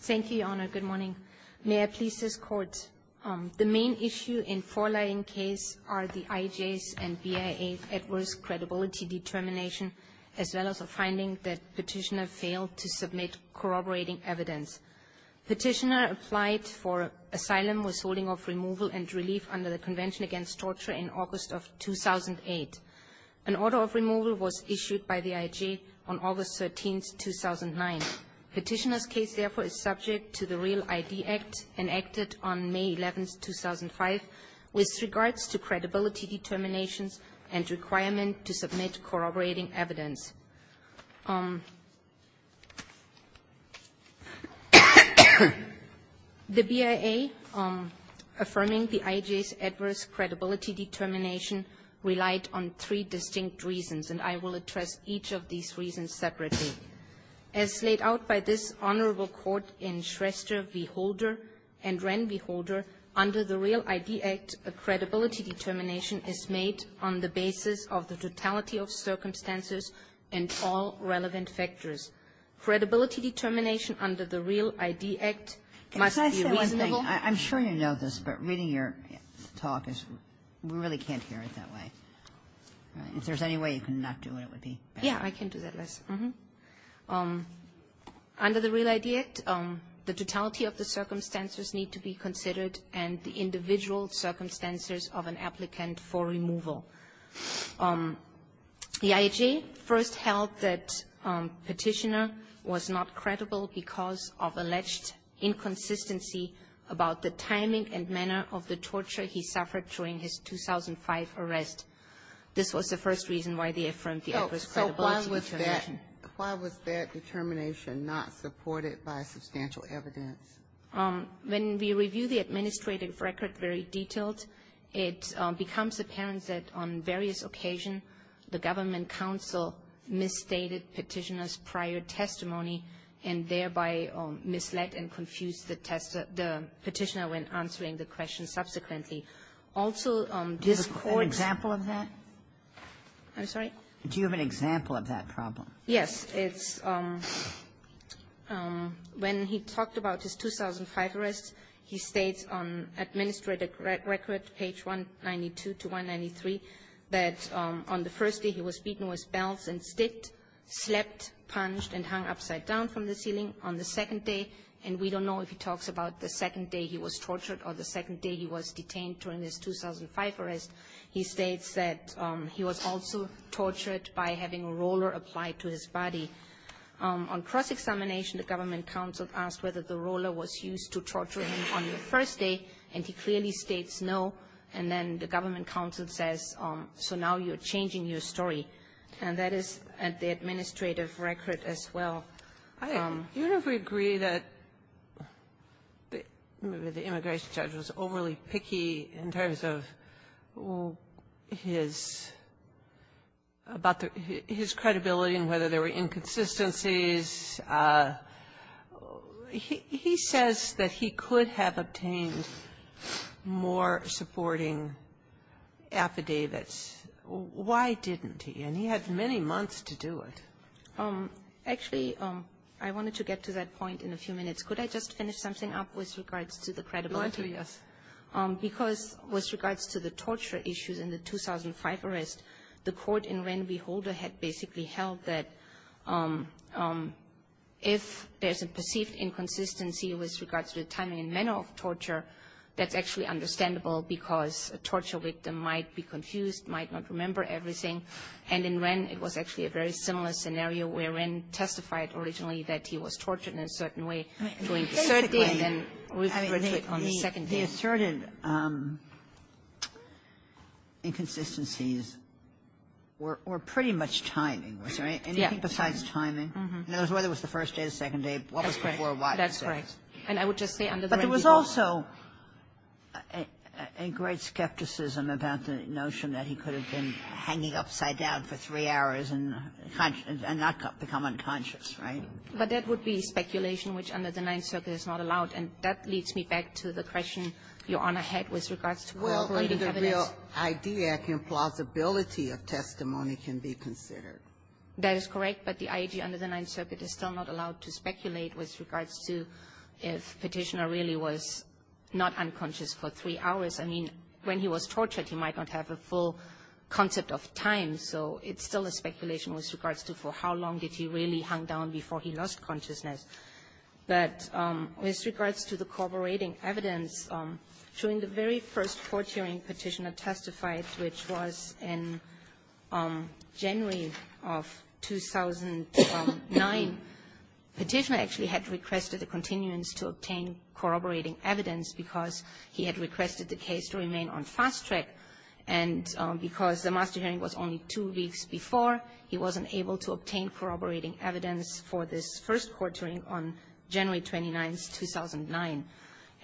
Thank you, Your Honor. Good morning. May I please discuss court? The main issue in four lying case are the IJs and BIA adverse credibility determination as well as a finding that petitioner failed to submit corroborating evidence. Petitioner applied for asylum withholding of removal and relief under the Convention Against Torture in August of 2008. An order of removal was issued by the IJ on August 13, 2009. Petitioner's case, therefore, is subject to the Real ID Act, enacted on May 11, 2005, with regards to credibility determinations and requirement to submit corroborating evidence. The BIA affirming the IJs' adverse credibility determination relied on three distinct reasons, and I will address each of these reasons separately. As laid out by this honorable court in Schrester v. Holder and Wren v. Holder, under the Real ID Act, a credibility determination is made on the basis of the totality of circumstances and all relevant factors. Credibility determination under the Real ID Act must be reasonable. Can I say one thing? I'm sure you know this, but reading your talk is we really can't hear it that way. If there's any way you can not do it, it would be better. Yeah, I can do that less. Under the Real ID Act, the totality of the circumstances need to be considered and the individual circumstances of an applicant for removal. The IJ first held that Petitioner was not credible because of alleged inconsistency about the timing and manner of the torture he suffered during his 2005 arrest. This was the first reason why they affirmed the adverse credibility determination. Why was that determination not supported by substantial evidence? When we review the administrative record very detailed, it becomes apparent that on various occasions the government counsel misstated Petitioner's prior testimony and thereby misled and confused the Petitioner when answering the question subsequently. Also, this Court's ---- An example of that? I'm sorry? Do you have an example of that problem? Yes. It's when he talked about his 2005 arrest, he states on administrative record, page 192 to 193, that on the first day he was beaten with belts and sticked, slept, punched, and hung upside down from the ceiling. On the second day, and we don't know if he talks about the second day he was tortured or the second day he was detained during his 2005 arrest, he states that he was also tortured by having a roller applied to his body. On cross-examination, the government counsel asked whether the roller was used to torture him on the first day, and he clearly states no. And then the government counsel says, so now you're changing your story. And that is at the administrative record as well. I don't know if we agree that the immigration judge was overly picky in terms of his about his credibility and whether there were inconsistencies. He says that he could have obtained more supporting affidavits. Why didn't he? And he had many months to do it. Actually, I wanted to get to that point in a few minutes. Could I just finish something up with regards to the credibility? Yes. Because with regards to the torture issues in the 2005 arrest, the court in Wren v. Holder had basically held that if there's a perceived inconsistency with regards to the timing and manner of torture, that's actually understandable because a torture victim might be confused, might not remember everything. And in Wren, it was actually a very similar scenario where Wren testified originally that he was tortured in a certain way during the third day and then was retrieved on the second day. The asserted inconsistencies were pretty much timing. Was there anything besides timing? It was whether it was the first day, the second day, what was before, what. That's right. And I would just say under the Wren v. Holder. But there was also a great skepticism about the notion that he could have been hanging upside down for three hours and not become unconscious, right? But that would be speculation, which under the Ninth Circuit is not allowed. And that leads me back to the question Your Honor had with regards to cooperating evidence. Well, under the real idea, plausibility of testimony can be considered. That is correct. But the IAG under the Ninth Circuit is still not allowed to speculate with regards to if Petitioner really was not unconscious for three hours. I mean, when he was tortured, he might not have a full concept of time. So it's still a speculation with regards to for how long did he really hang down before he lost consciousness. But with regards to the cooperating evidence, during the very first court hearing Petitioner testified, which was in January of 2009, Petitioner actually had requested a continuance to obtain corroborating evidence because he had requested the case to remain on fast track. And because the master hearing was only two weeks before, he wasn't able to obtain the first court hearing on January 29th, 2009.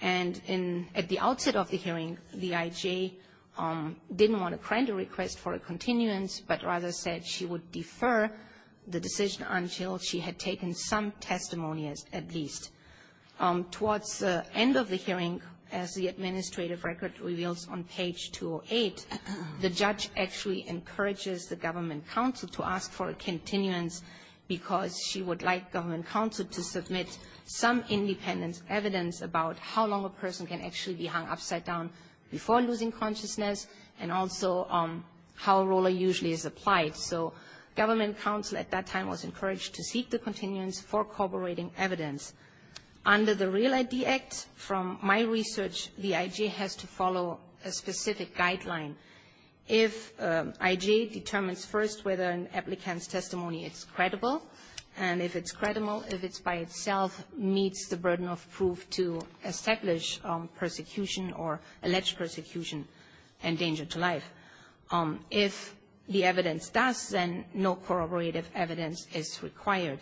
And at the outset of the hearing, the IAG didn't want to grant a request for a continuance, but rather said she would defer the decision until she had taken some testimonies at least. Towards the end of the hearing, as the administrative record reveals on page 208, the judge actually encourages the government counsel to ask for a continuance because she would like government counsel to submit some independent evidence about how long a person can actually be hung upside down before losing consciousness and also how ROLA usually is applied. So government counsel at that time was encouraged to seek the continuance for corroborating evidence. Under the Real ID Act, from my research, the IAG has to follow a specific guideline. If IAG determines first whether an applicant's testimony is credible, and if it's credible, if it's by itself meets the burden of proof to establish persecution or allege persecution and danger to life. If the evidence does, then no corroborative evidence is required.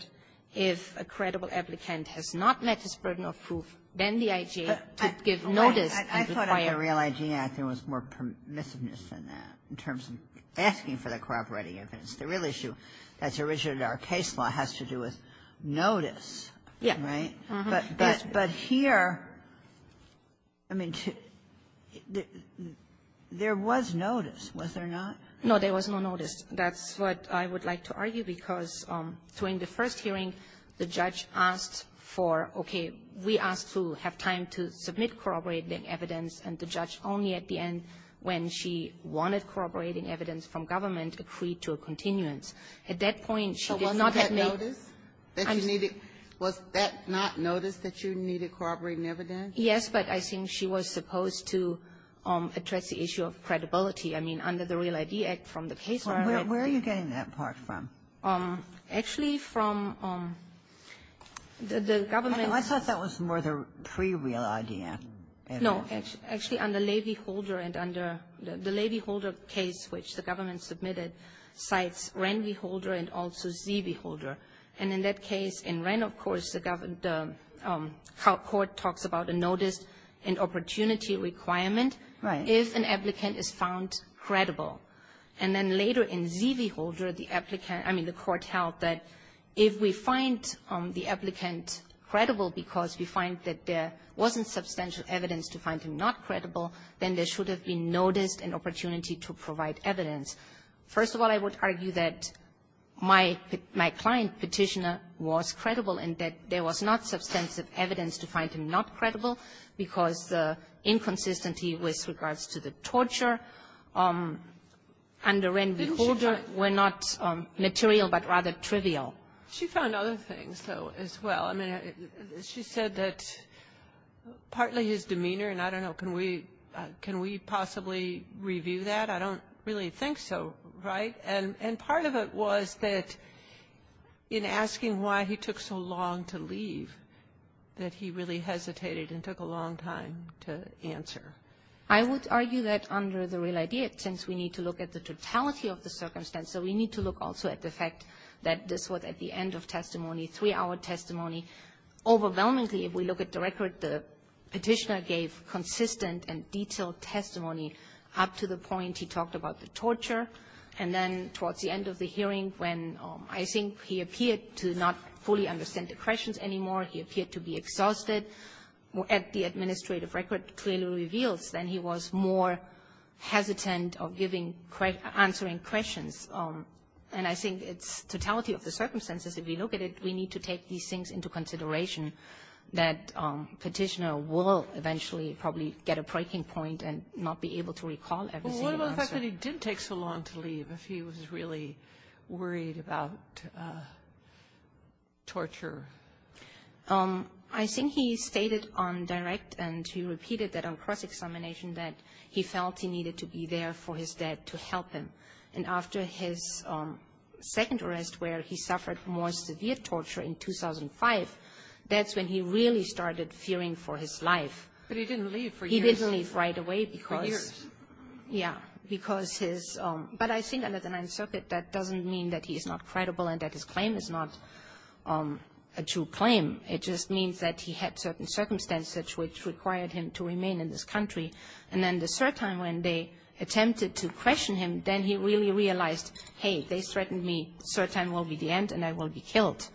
If a credible applicant has not met this burden of proof, then the IAG to give notice is required. Ginsburg. The Real ID Act, there was more permissiveness in that, in terms of asking for the corroborating evidence. The real issue that's originated in our case law has to do with notice, right? But here, I mean, there was notice, was there not? No, there was no notice. That's what I would like to argue because during the first hearing, the judge asked for, okay, we asked to have time to submit corroborating evidence, and the judge only at the end when she wanted corroborating evidence from government agreed to a continuance. At that point, she did not have notice that you needed to corroborate evidence. Yes, but I think she was supposed to address the issue of credibility. I mean, under the Real ID Act, from the case law that we're getting that part from. Actually, from the government ---- I thought that was more the pre-Real ID Act. No. Actually, under Levy-Holder and under the Levy-Holder case, which the government submitted, cites Wren v. Holder and also Zee v. Holder. And in that case, in Wren, of course, the court talks about a notice and opportunity requirement if an applicant is found credible. And then later in Zee v. Holder, the applicant ---- I mean, the court held that if we find the applicant credible because we find that there wasn't substantial evidence to find him not credible, then there should have been noticed an opportunity to provide evidence. First of all, I would argue that my client, Petitioner, was credible and that there was not substantive evidence to find him not credible because the inconsistency with regards to the torture under Wren v. Holder were not material, but rather trivial. Didn't she find other things, though, as well? I mean, she said that partly his demeanor, and I don't know, can we ---- can we possibly review that? I don't really think so, right? And part of it was that in asking why he took so long to leave that he really hesitated and took a long time to answer. I would argue that under the real idea, since we need to look at the totality of the circumstance, so we need to look also at the fact that this was at the end of testimony, three-hour testimony. Overwhelmingly, if we look at the record, the Petitioner gave consistent and detailed testimony up to the point he talked about the torture, and then towards the end of the testimony, he didn't answer any of the questions anymore, he appeared to be exhausted. At the administrative record, it clearly reveals that he was more hesitant of giving ---- answering questions. And I think it's totality of the circumstances. If we look at it, we need to take these things into consideration, that Petitioner will eventually probably get a breaking point and not be able to recall every single answer. But he didn't take so long to leave if he was really worried about torture. I think he stated on direct and he repeated that on cross-examination that he felt he needed to be there for his dad to help him. And after his second arrest where he suffered more severe torture in 2005, that's when he really started fearing for his life. But he didn't leave for years. He didn't leave right away because his ---- but I think under the Ninth Circuit, that doesn't mean that he is not credible and that his claim is not a true claim. It just means that he had certain circumstances which required him to remain in this country. And then the cert time, when they attempted to question him, then he really realized, hey, they threatened me, cert time will be the end and I will be killed.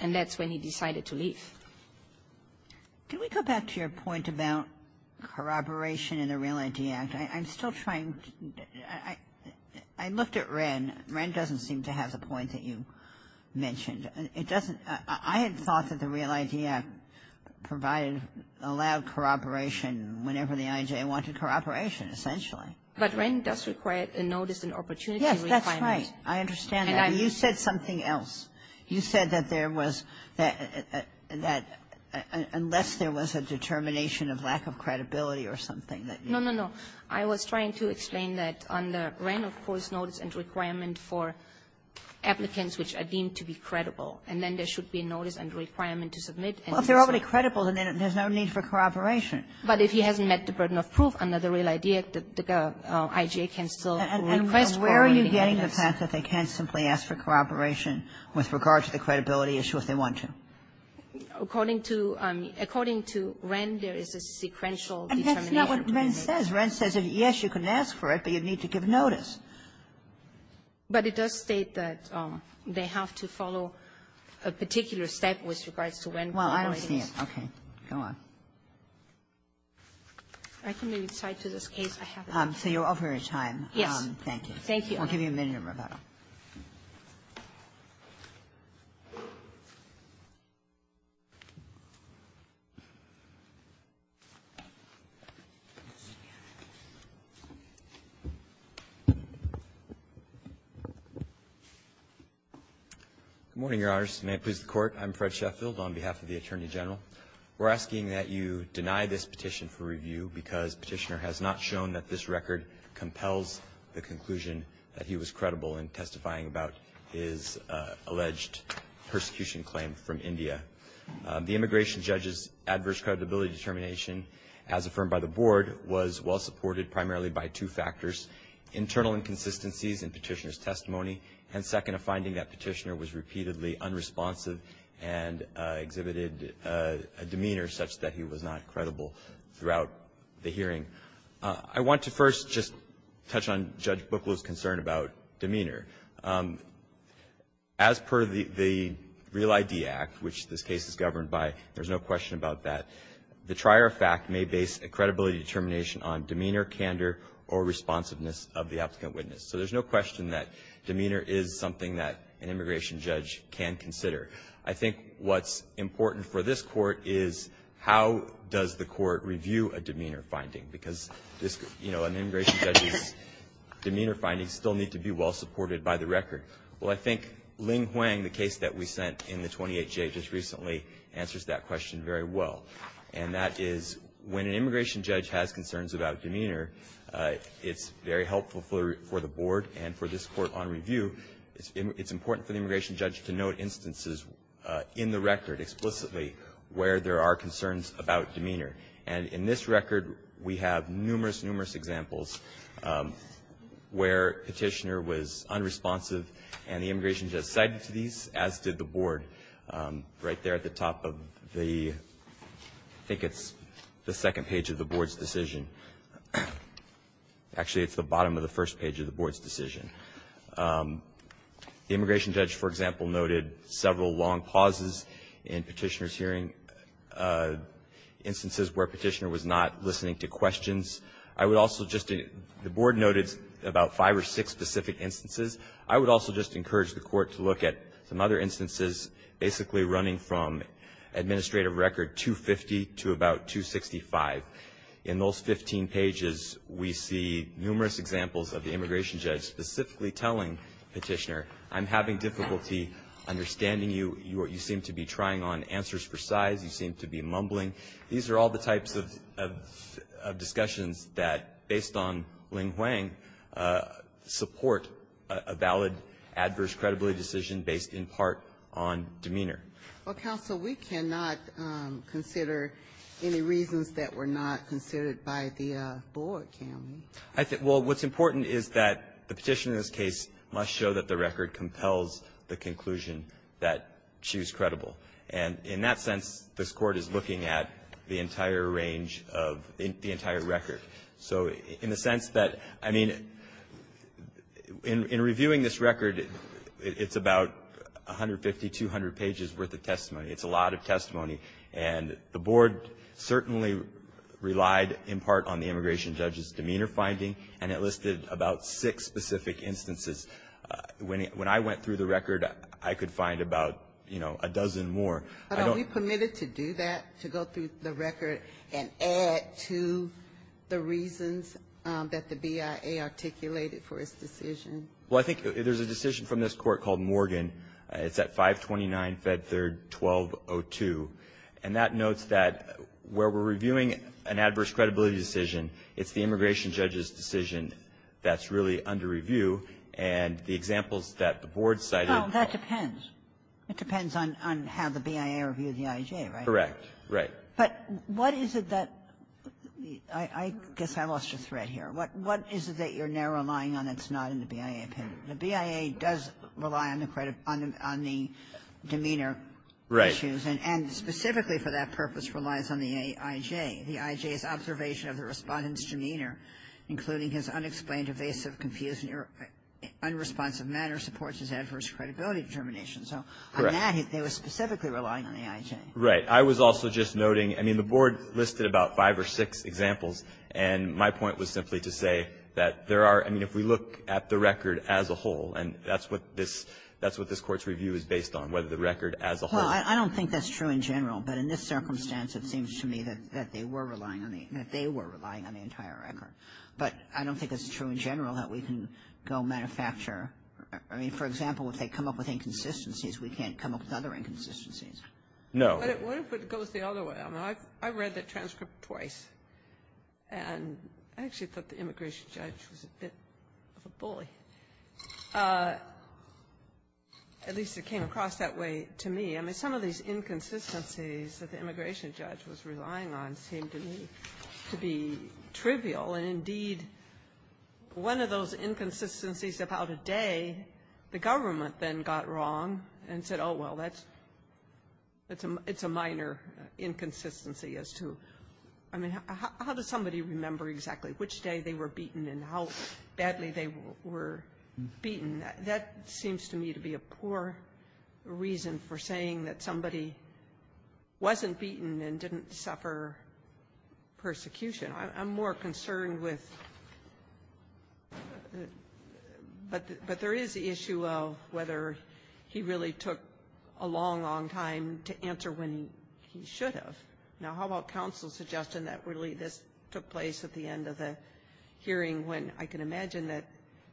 And that's when he decided to leave. Ginsburg. Can we go back to your point about corroboration in the Real ID Act? I'm still trying to ---- I looked at Wren. Wren doesn't seem to have the point that you mentioned. It doesn't ---- I had thought that the Real ID Act provided, allowed corroboration whenever the I.J. wanted corroboration, essentially. But Wren does require a notice and opportunity requirement. Yes, that's right. I understand that. And you said something else. You said that there was that unless there was a determination of lack of credibility or something that you ---- No, no, no. I was trying to explain that under Wren, of course, notice and requirement for applicants which are deemed to be credible, and then there should be a notice and requirement to submit. Well, if they're already credible, then there's no need for corroboration. But if he hasn't met the burden of proof under the Real ID Act, the I.J. can still request corroborating notice. Where are you getting the fact that they can't simply ask for corroboration with regard to the credibility issue if they want to? According to Wren, there is a sequential determination. And that's not what Wren says. Wren says, yes, you can ask for it, but you'd need to give notice. But it does state that they have to follow a particular step with regards to Wren corroborating. Well, I don't see it. Okay. Go on. I can maybe cite to this case. I have it. So you're over your time. Yes. Thank you. Thank you. I'll give you a minute, Roberta. Good morning, Your Honors. May it please the Court. I'm Fred Sheffield on behalf of the Attorney General. We're asking that you deny this petition for review because Petitioner has not shown that this record compels the conclusion that he was credible in testifying about his alleged persecution claim from India. The immigration judge's adverse credibility determination, as affirmed by the Board, was well-supported primarily by two factors, internal inconsistencies in Petitioner's testimony, and second, a finding that Petitioner was repeatedly unresponsive and exhibited a demeanor such that he was not credible throughout the hearing. I want to first just touch on Judge Booklew's concern about demeanor. As per the Real ID Act, which this case is governed by, there's no question about that, the trier of fact may base a credibility determination on demeanor, candor, or responsiveness of the applicant witness. So there's no question that demeanor is something that an immigration judge can consider. I think what's important for this Court is how does the Court review a demeanor finding, because an immigration judge's demeanor findings still need to be well-supported by the record. Well, I think Ling Huang, the case that we sent in the 28J just recently, answers that question very well. And that is when an immigration judge has concerns about demeanor, it's very helpful for the Board and for this Court on review. It's important for the immigration judge to note instances in the record explicitly where there are concerns about demeanor. And in this record, we have numerous, numerous examples where Petitioner was unresponsive and the immigration judge cited these, as did the Board. Right there at the top of the, I think it's the second page of the Board's decision. Actually, it's the bottom of the first page of the Board's decision. The immigration judge, for example, noted several long pauses in Petitioner's hearing, instances where Petitioner was not listening to questions. I would also just, the Board noted about five or six specific instances. I would also just encourage the Court to look at some other instances, basically running from administrative record 250 to about 265. In those 15 pages, we see numerous examples of the immigration judge specifically telling Petitioner, I'm having difficulty understanding you. You seem to be trying on answers for size. You seem to be mumbling. These are all the types of discussions that, based on Ling-Huang, support a valid, adverse credibility decision based in part on demeanor. Well, Counsel, we cannot consider any reasons that were not considered by the Board, can we? Well, what's important is that the Petitioner's case must show that the record compels the conclusion that she was credible. And in that sense, this Court is looking at the entire range of the entire record. So in the sense that, I mean, in reviewing this record, it's about 150, 200 pages worth of testimony. It's a lot of testimony, and the Board certainly relied in part on the immigration judge's demeanor finding, and it listed about six specific instances. When I went through the record, I could find about, you know, a dozen more. But are we permitted to do that, to go through the record and add to the reasons that the BIA articulated for its decision? Well, I think there's a decision from this Court called Morgan. It's at 529 Fed 3rd 1202, and that notes that where we're reviewing an adverse credibility decision, it's the immigration judge's decision that's really under review, and the examples that the Board cited are the same. No, that depends. It depends on how the BIA reviewed the IJ, right? Correct. Right. But what is it that the – I guess I lost your thread here. What is it that you're now relying on that's not in the BIA? The BIA does rely on the demeanor issues. Right. And specifically for that purpose relies on the IJ. The IJ's observation of the Respondent's demeanor, including his unexplained, evasive, confused, and unresponsive manner, supports his adverse credibility determination. So on that, they were specifically relying on the IJ. Right. I was also just noting, I mean, the Board listed about five or six examples, and my point was simply to say that there are – I mean, if we look at the record as a whole, and that's what this – that's what this Court's review is based on, whether the record as a whole – Well, I don't think that's true in general, but in this circumstance, it seems to me that they were relying on the – that they were relying on the entire record. But I don't think it's true in general that we can go manufacture – I mean, for example, if they come up with inconsistencies, we can't come up with other inconsistencies. No. What if it goes the other way? I mean, I've read the transcript twice, and I actually thought the immigration judge was a bit of a bully. At least it came across that way to me. I mean, some of these inconsistencies that the immigration judge was relying on seemed to me to be trivial, and indeed, one of those inconsistencies about a day, the government then got wrong and said, oh, well, that's – it's a minor inconsistency as to – I mean, how does somebody remember exactly which day they were beaten and how badly they were beaten? That seems to me to be a poor reason for saying that somebody wasn't beaten and didn't suffer persecution. I'm more concerned with – but there is the issue of whether he really took a long, long time to answer when he should have. Now, how about counsel's suggestion that really this took place at the end of the hearing when I can imagine that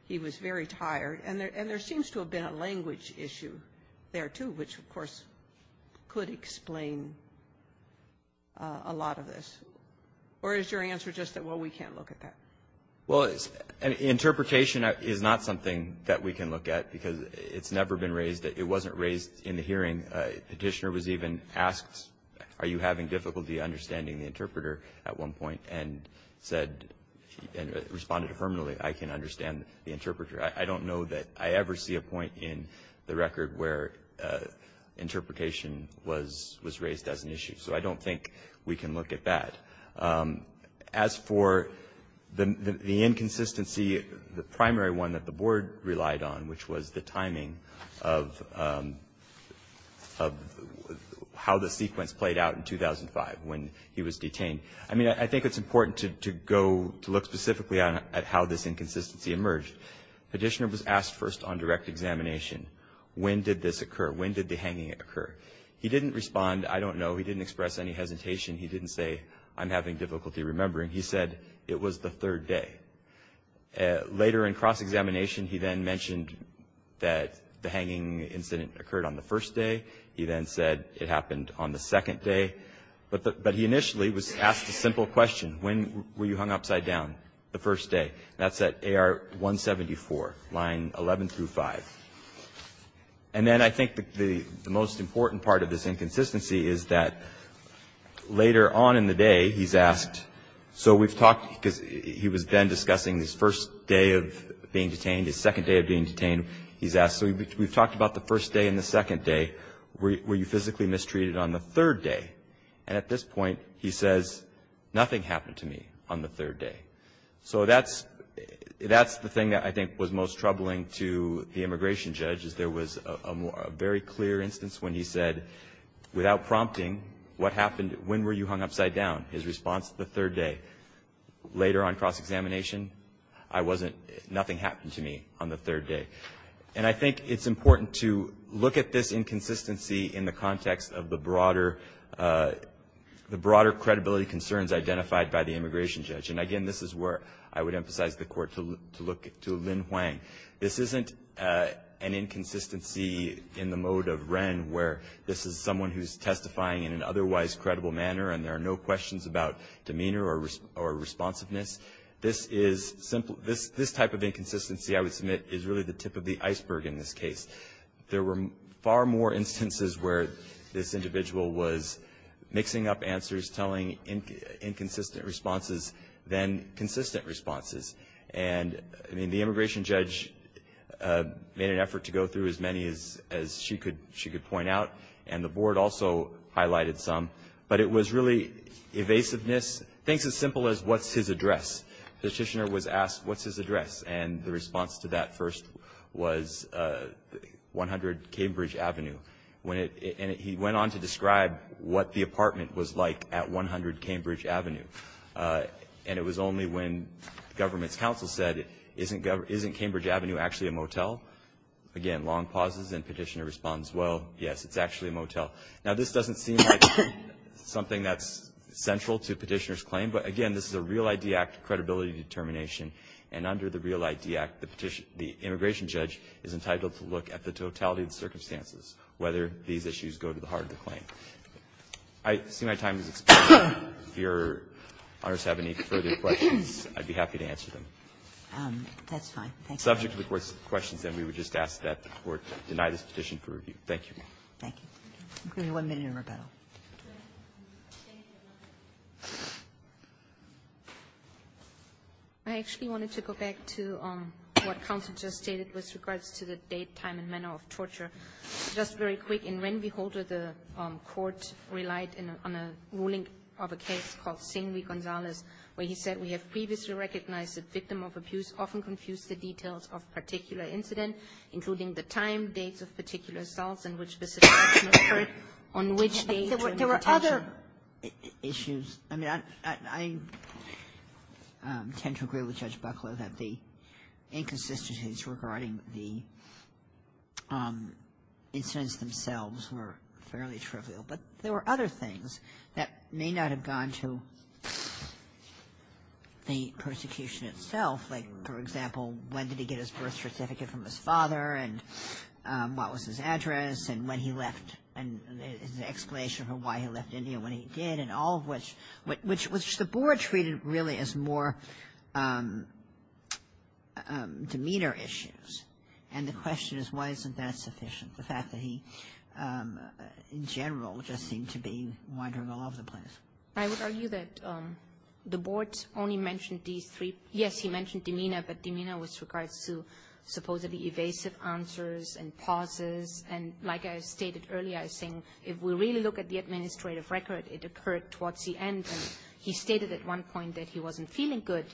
he was very tired? And there seems to have been a language issue there, too, which, of course, could explain a lot of this. Or is your answer just that, well, we can't look at that? Well, interpretation is not something that we can look at because it's never been raised. It wasn't raised in the hearing. Petitioner was even asked, are you having difficulty understanding the interpreter at one point, and said – and responded terminally, I can understand the interpreter. I don't know that I ever see a point in the record where interpretation was raised as an issue. So I don't think we can look at that. As for the inconsistency, the primary one that the Board relied on, which was the timing of how the sequence played out in 2005 when he was detained. I mean, I think it's important to go – to look specifically at how this inconsistency emerged. Petitioner was asked first on direct examination, when did this occur? When did the hanging occur? He didn't respond, I don't know. He didn't express any hesitation. He didn't say, I'm having difficulty remembering. He said, it was the third day. Later in cross-examination, he then mentioned that the hanging incident occurred on the second day. But he initially was asked a simple question, when were you hung upside down the first day? That's at AR 174, line 11 through 5. And then I think the most important part of this inconsistency is that later on in the day, he's asked – so we've talked – because he was then discussing his first day of being detained, his second day of being detained. He's asked, so we've talked about the first day and the second day. Were you physically mistreated on the third day? And at this point, he says, nothing happened to me on the third day. So that's – that's the thing that I think was most troubling to the immigration judge, is there was a very clear instance when he said, without prompting, what happened – when were you hung upside down? His response, the third day. Later on cross-examination, I wasn't – nothing happened to me on the third day. And I think it's important to look at this inconsistency in the context of the broader – the broader credibility concerns identified by the immigration judge. And again, this is where I would emphasize the Court to look to Lin Huang. This isn't an inconsistency in the mode of Wren, where this is someone who's testifying in an otherwise credible manner and there are no questions about demeanor or responsiveness. This is – this type of inconsistency, I would submit, is really the tip of the iceberg in this case. There were far more instances where this individual was mixing up answers, telling inconsistent responses than consistent responses. And, I mean, the immigration judge made an effort to go through as many as she could point out, and the Board also highlighted some. But it was really evasiveness. Things as simple as, what's his address? Petitioner was asked, what's his address? And the response to that first was 100 Cambridge Avenue. And he went on to describe what the apartment was like at 100 Cambridge Avenue. And it was only when government's counsel said, isn't Cambridge Avenue actually a motel? Again, long pauses, and Petitioner responds, well, yes, it's actually a motel. Now, this doesn't seem like something that's central to Petitioner's claim, but, again, this is a Real ID Act credibility determination. And under the Real ID Act, the immigration judge is entitled to look at the totality of the circumstances, whether these issues go to the heart of the claim. I see my time has expired. If Your Honors have any further questions, I'd be happy to answer them. That's fine. Thank you. Subject to the Court's questions, then we would just ask that the Court deny this petition for review. Thank you. Thank you. I'll give you one minute in rebuttal. I actually wanted to go back to what counsel just stated with regards to the date, time, and manner of torture. Just very quick, in Renby Holder, the Court relied on a ruling of a case called Singley-Gonzalez, where he said we have previously recognized that victim of abuse often confused the details of a particular incident, including the time, dates of particular assaults, and which specific action occurred on which date. There were other issues. I mean, I tend to agree with Judge Buckler that the inconsistencies regarding the incidents themselves were fairly trivial. But there were other things that may not have gone to the persecution itself, like, for example, when did he get his birth certificate from his father, and what was his address, and when he left, and the explanation for why he left India when he did, and all of which the Board treated really as more demeanor issues. And the question is, why isn't that sufficient, the fact that he, in general, just seemed to be wandering all over the place? I would argue that the Board only mentioned these three. Yes, he mentioned demeanor, but demeanor with regards to supposedly evasive answers and pauses. And like I stated earlier, I think if we really look at the administrative record, it occurred towards the end. He stated at one point that he wasn't feeling good,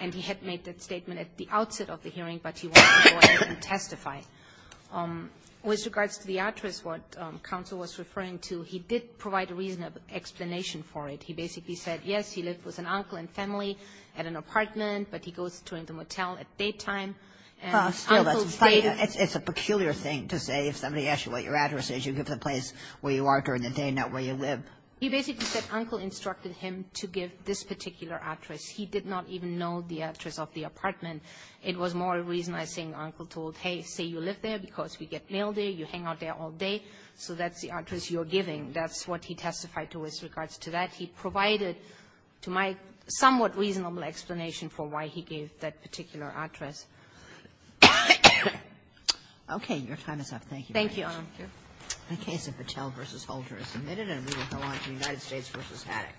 and he had made that statement at the outset of the hearing, but he wanted to go ahead and testify. With regards to the address, what counsel was referring to, he did provide a reasonable explanation for it. He basically said, yes, he lived with an uncle and family at an apartment, but he goes to the motel at daytime, and uncle stayed at the motel. It's a peculiar thing to say. If somebody asks you what your address is, you give the place where you are during the day, not where you live. He basically said uncle instructed him to give this particular address. He did not even know the address of the apartment. It was more a reason, I think, uncle told, hey, say you live there because we get mail there, you hang out there all day, so that's the address you're giving. That's what he testified to with regards to that. He provided to my somewhat reasonable explanation for why he gave that particular address. Okay. Your time is up. Thank you. Thank you, Your Honor. The case of Patel v. Holter is submitted, and we will go on to United States v. Haddock.